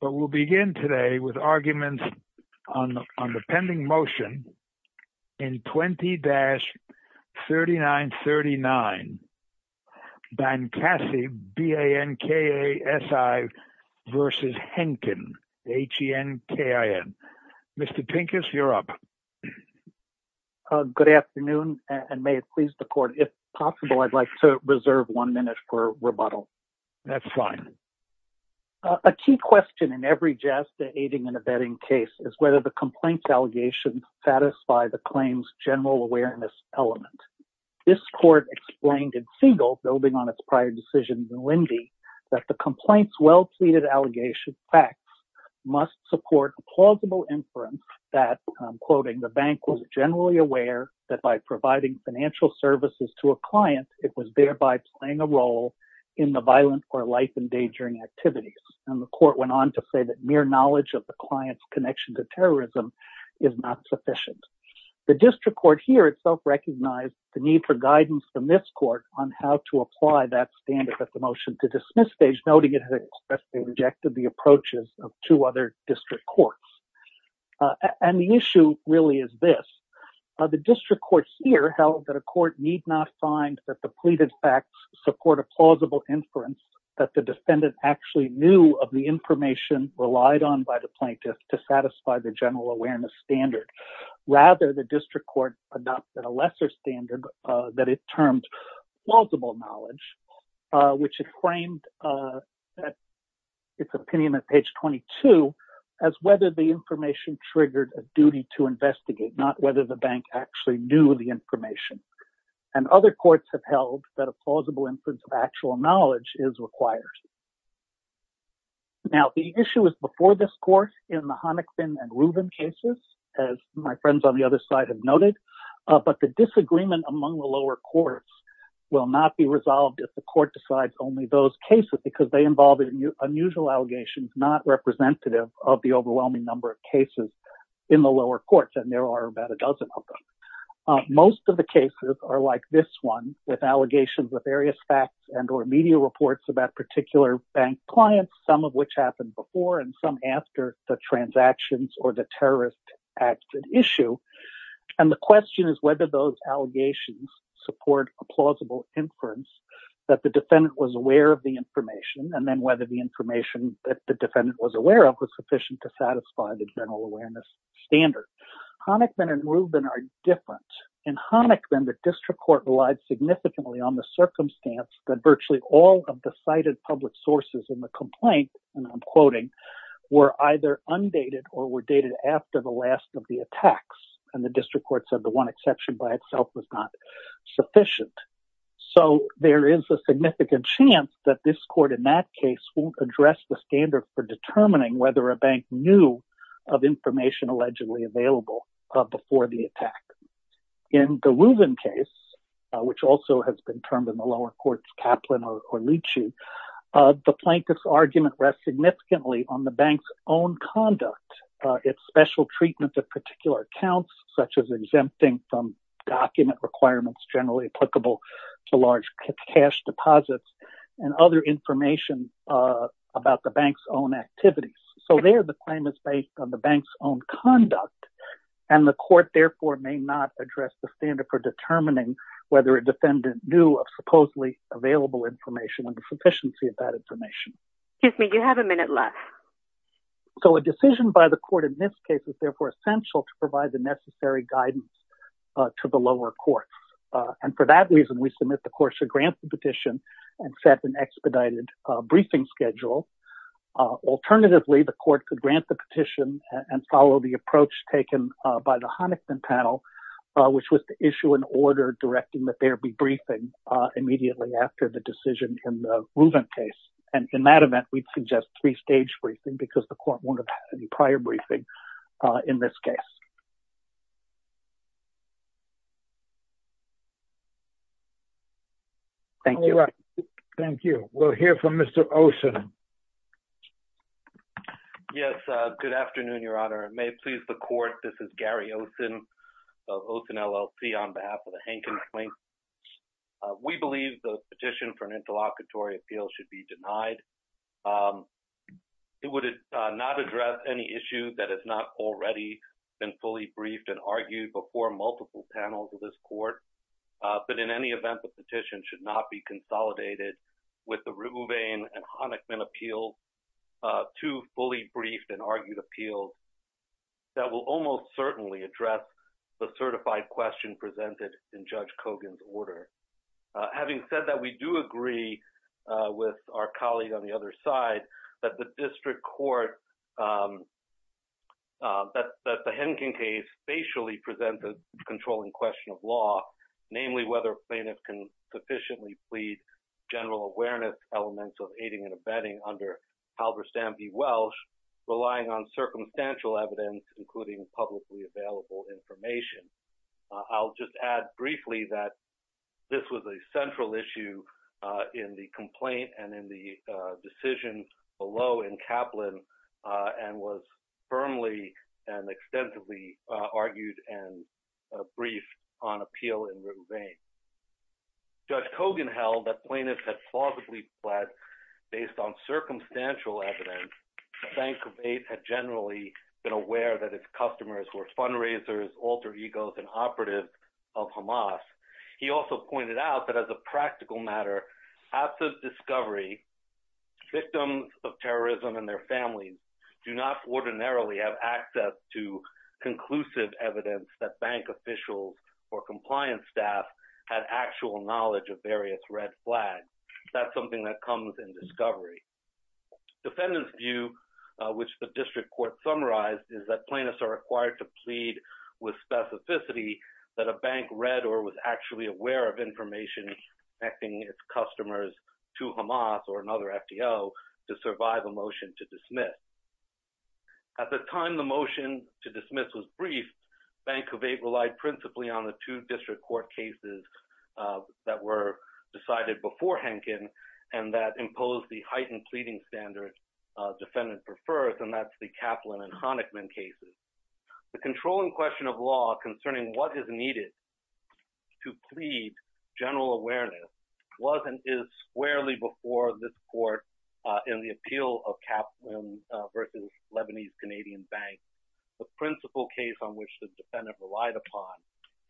But we'll begin today with arguments on the pending motion in 20-3939 Bankasi versus Henkin. Mr. Pincus, you're up. Good afternoon, and may it please the court, if possible, I'd like to reserve one minute for rebuttal. That's fine. A key question in every JASDA aiding and abetting case is whether the complaint's allegations satisfy the claim's general awareness element. This court explained in Siegel, building on its prior decision in Lindy, that the complaint's well-pleaded allegations facts must support a plausible inference that, quoting, the bank was generally aware that by providing financial services to a client, it was thereby playing a role in the violent or life-endangering activities. And the court went on to say that mere knowledge of the client's connection to terrorism is not sufficient. The district court here itself recognized the need for guidance from this court on how to apply that standard at the motion to dismiss stage, noting it has expressly rejected the approaches of two district courts. And the issue really is this. The district court here held that a court need not find that the pleaded facts support a plausible inference that the defendant actually knew of the information relied on by the plaintiff to satisfy the general awareness standard. Rather, the district court adopted a lesser standard that it termed plausible knowledge, which it framed its opinion at page 22 as whether the information triggered a duty to investigate, not whether the bank actually knew the information. And other courts have held that a plausible inference of actual knowledge is required. Now, the issue was before this court in the Honickson and Rubin cases, as my friends on the other side have noted, but the disagreement among the lower courts will not be resolved if the court decides only those cases because they involve unusual allegations not representative of the overwhelming number of cases in the lower courts. And there are about a dozen of them. Most of the cases are like this one with allegations of various facts and or media reports about particular bank clients, some of which happened before and some after the transactions or the terrorist acts at issue. And the question is whether those allegations support a plausible inference that the defendant was aware of the information, and then whether the information that the defendant was aware of was sufficient to satisfy the general awareness standard. Honickman and Rubin are different. In Honickman, the district court relied significantly on the circumstance that virtually all of the cited public sources in the complaint, and I'm quoting, were either undated or were dated after the last of the attacks. And the district court said the one exception by itself was not sufficient. So there is a significant chance that this court in that case will address the standard for determining whether a bank knew of information allegedly available before the attack. In the Rubin case, which also has been termed in the lower courts Kaplan or Lychee, the plaintiff's argument rests significantly on the bank's own conduct, its special treatment of particular accounts, such as exempting from document requirements generally applicable to large cash deposits, and other information about the bank's own activities. So there the claim is based on the bank's own conduct, and the court therefore may not address the standard for determining whether a defendant knew of supposedly available information and the sufficiency of that information. Excuse me, you have a minute left. So a decision by the court in this case is therefore essential to provide the necessary guidance to the lower courts. And for that reason, we submit the court should grant the petition and set an expedited briefing schedule. Alternatively, the court could grant the petition and follow the approach taken by the Honickman panel, which was to issue an order directing that there be briefing immediately after the decision in the Rubin case. And in that event, we'd suggest three-stage briefing because the court won't have any prior briefing in this case. Thank you. Thank you. We'll hear from Mr. Osen. Yes, good afternoon, Your Honor. May it please the court, this is Gary Osen of Osen LLC on behalf of the Hankins Claims. We believe the petition for an interlocutory appeal should be denied. It would not address any issue that has not already been fully briefed and argued before multiple panels of this court. But in any event, the petition should not be consolidated with the Rubin and Honickman appeals, two fully briefed and argued appeals that will almost certainly address the certified question presented in Judge Kogan's order. Having said that, we do agree with our colleague on the other side that the district court, that the Hankin case facially presents a controlling question of law, namely whether plaintiffs can sufficiently plead general awareness elements of aiding and abetting under Halberstam v. Welsh, relying on circumstantial evidence, including publicly available information. I'll just add briefly that this was a central issue in the complaint and in the decision below in Kaplan and was firmly and extensively argued and briefed on appeal in Rubin v. Welsh. Judge Kogan held that plaintiffs had plausibly pled based on circumstantial evidence. The bank had generally been aware that its customers were fundraisers, alter egos, and operatives of Hamas. He also pointed out that as a practical matter, after discovery, victims of terrorism and their families do not ordinarily have access to conclusive evidence that bank officials or compliance staff had actual knowledge of various red flags. That's something that comes in discovery. Defendant's view, which the district court summarized, is that plaintiffs are required to plead with specificity that a bank read or was actually aware of information connecting its customers to Hamas or another FTO to survive a motion to dismiss. At the time the motion to dismiss was briefed, Bank of Eight relied principally on the two and that imposed the heightened pleading standard defendant prefers and that's the Kaplan and Honickman cases. The controlling question of law concerning what is needed to plead general awareness wasn't is squarely before this court in the appeal of Kaplan versus Lebanese Canadian Bank. The principal case on which the defendant relied upon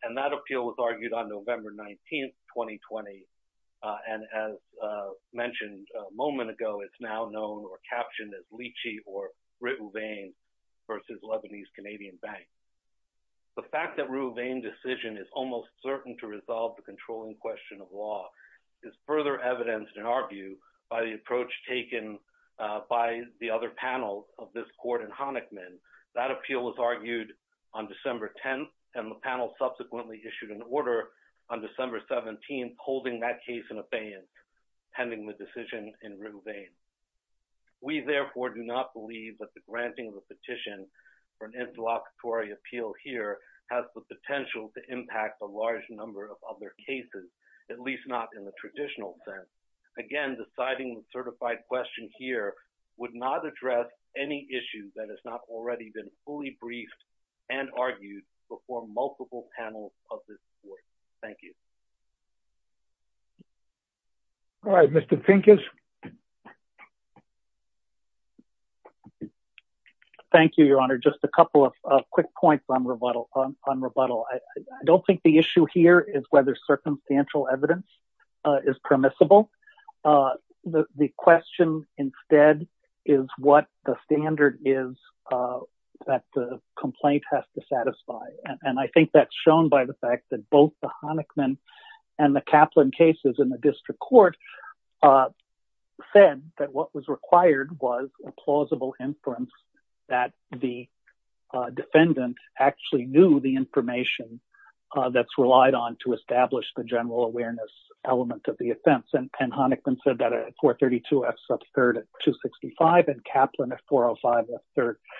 and that appeal was argued on November 19th, 2020, and as mentioned a moment ago, it's now known or captioned as Leachy or Ruevane versus Lebanese Canadian Bank. The fact that Ruevane decision is almost certain to resolve the controlling question of law is further evidenced in our view by the approach taken by the other panels of this court in Honickman. That appeal was argued on December 10th and the on December 17th, holding that case in abeyance, pending the decision in Ruevane. We therefore do not believe that the granting of a petition for an interlocutory appeal here has the potential to impact a large number of other cases, at least not in the traditional sense. Again, deciding the certified question here would not address any issue that has not already been fully briefed and argued before multiple panels of this court. Thank you. All right, Mr. Pincus. Thank you, Your Honor. Just a couple of quick points on rebuttal. I don't think the issue here is whether circumstantial evidence is permissible. The question instead is what the standard is that the complaint has to satisfy. And I think that's shown by the fact that both the Honickman and the Kaplan cases in the district court said that what was required was a plausible inference that the defendant actually knew the information that's relied on to establish the general awareness element of the offense. And Honickman said that at 432 F sub 3rd at 265 and Kaplan at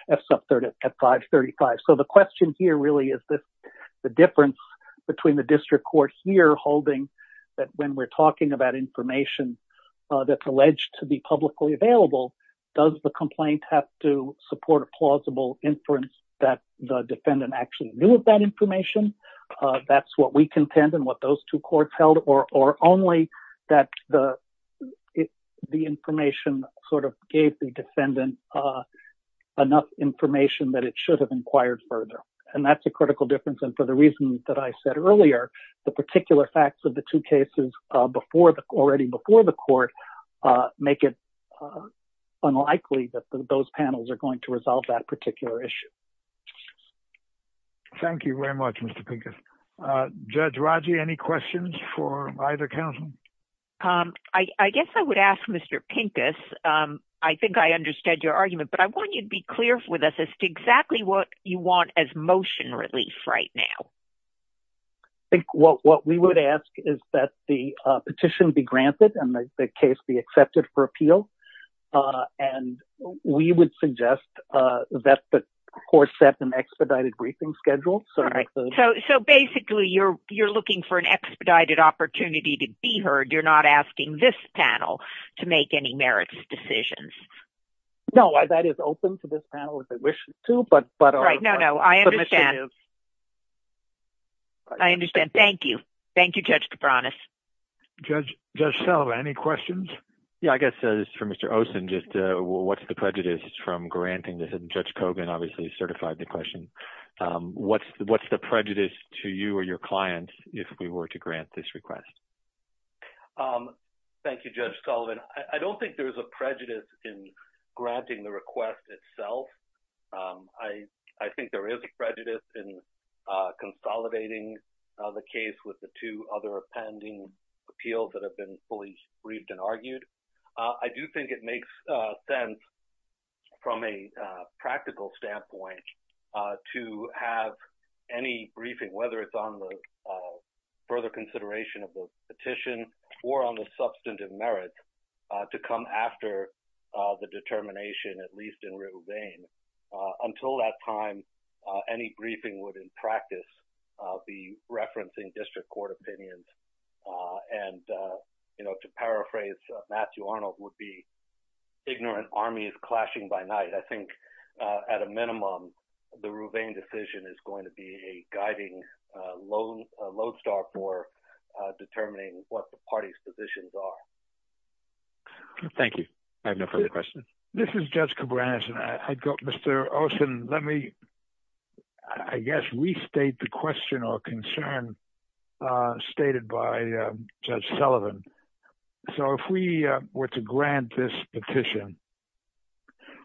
F sub 3rd at 535. So the question here really is the difference between the district court here holding that when we're talking about information that's alleged to be publicly available, does the complaint have to support a plausible inference that the defendant actually knew of that information? That's what we contend and what those two courts held, or only that the information sort of gave the defendant enough information that it should have inquired further. And that's a critical difference. And for the reasons that I said earlier, the particular facts of the two cases already before the court make it unlikely that those panels are going to resolve that particular issue. Thank you very much, Mr. Pincus. Judge Pincus, I think I understood your argument, but I want you to be clear with us as to exactly what you want as motion relief right now. I think what we would ask is that the petition be granted and the case be accepted for appeal. And we would suggest that the court set an expedited briefing schedule. So basically, you're looking for an expedited opportunity to be heard. You're not asking this panel to make any merits decisions. No, that is open to this panel if they wish to, but... Right, no, no, I understand. I understand. Thank you. Thank you, Judge DeBranis. Judge Sullivan, any questions? Yeah, I guess for Mr. Osen, just what's the prejudice from granting this? And Judge Kogan obviously certified the question. What's the prejudice to you or your Thank you, Judge Sullivan. I don't think there's a prejudice in granting the request itself. I think there is a prejudice in consolidating the case with the two other appending appeals that have been fully briefed and argued. I do think it makes sense from a practical standpoint to have any briefing, whether it's on the further consideration of the petition or on the substantive merits, to come after the determination, at least in Rouvain. Until that time, any briefing would, in practice, be referencing district court opinions. And, you know, to paraphrase Matthew I think at a minimum, the Rouvain decision is going to be a guiding lodestar for determining what the party's positions are. Thank you. I have no further questions. This is Judge DeBranis. Mr. Osen, let me, I guess, restate the question or concern stated by Judge Sullivan. So if we were to grant this petition,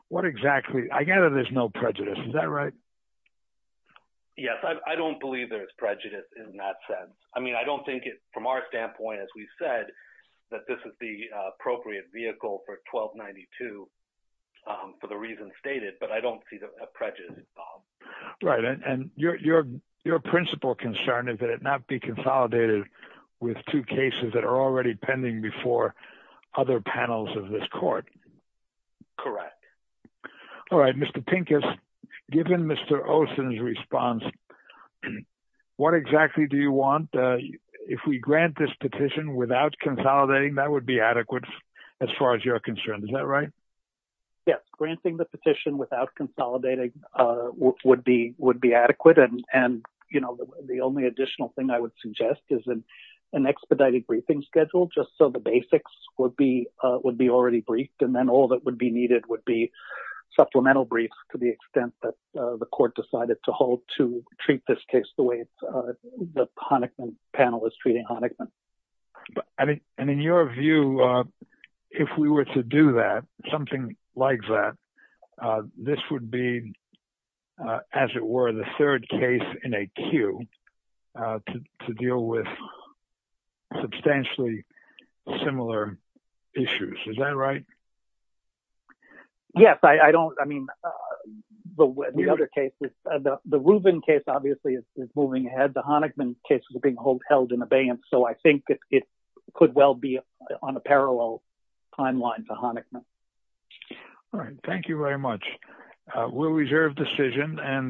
what exactly, I gather there's no prejudice, is that right? Yes, I don't believe there's prejudice in that sense. I mean, I don't think it, from our standpoint, as we said, that this is the appropriate vehicle for 1292 for the reasons stated, but I don't see a prejudice involved. Right. And your principal concern is that it not be consolidated with two cases that are already pending before other panels of this court. Correct. All right. Mr. Pincus, given Mr. Osen's response, what exactly do you want? If we grant this petition without consolidating, that would be adequate as far as you're concerned, is that right? Yes. Granting the petition without consolidating would be adequate. And the only additional thing I would suggest is an expedited briefing schedule, just so the basics would be already briefed, and then all that would be needed would be supplemental briefs to the extent that the court decided to treat this case the way the Honickman panel is treating Honickman. And in your view, if we were to do that, something like that, this would be, as it were, the third case in a queue to deal with substantially similar issues. Is that right? Yes, I don't, I mean, the other cases, the Rubin case, obviously, is moving ahead. The Honickman cases are being held in abeyance. So I think that it could well be on a parallel timeline for Honickman. All right, thank you very much. We'll reserve decision and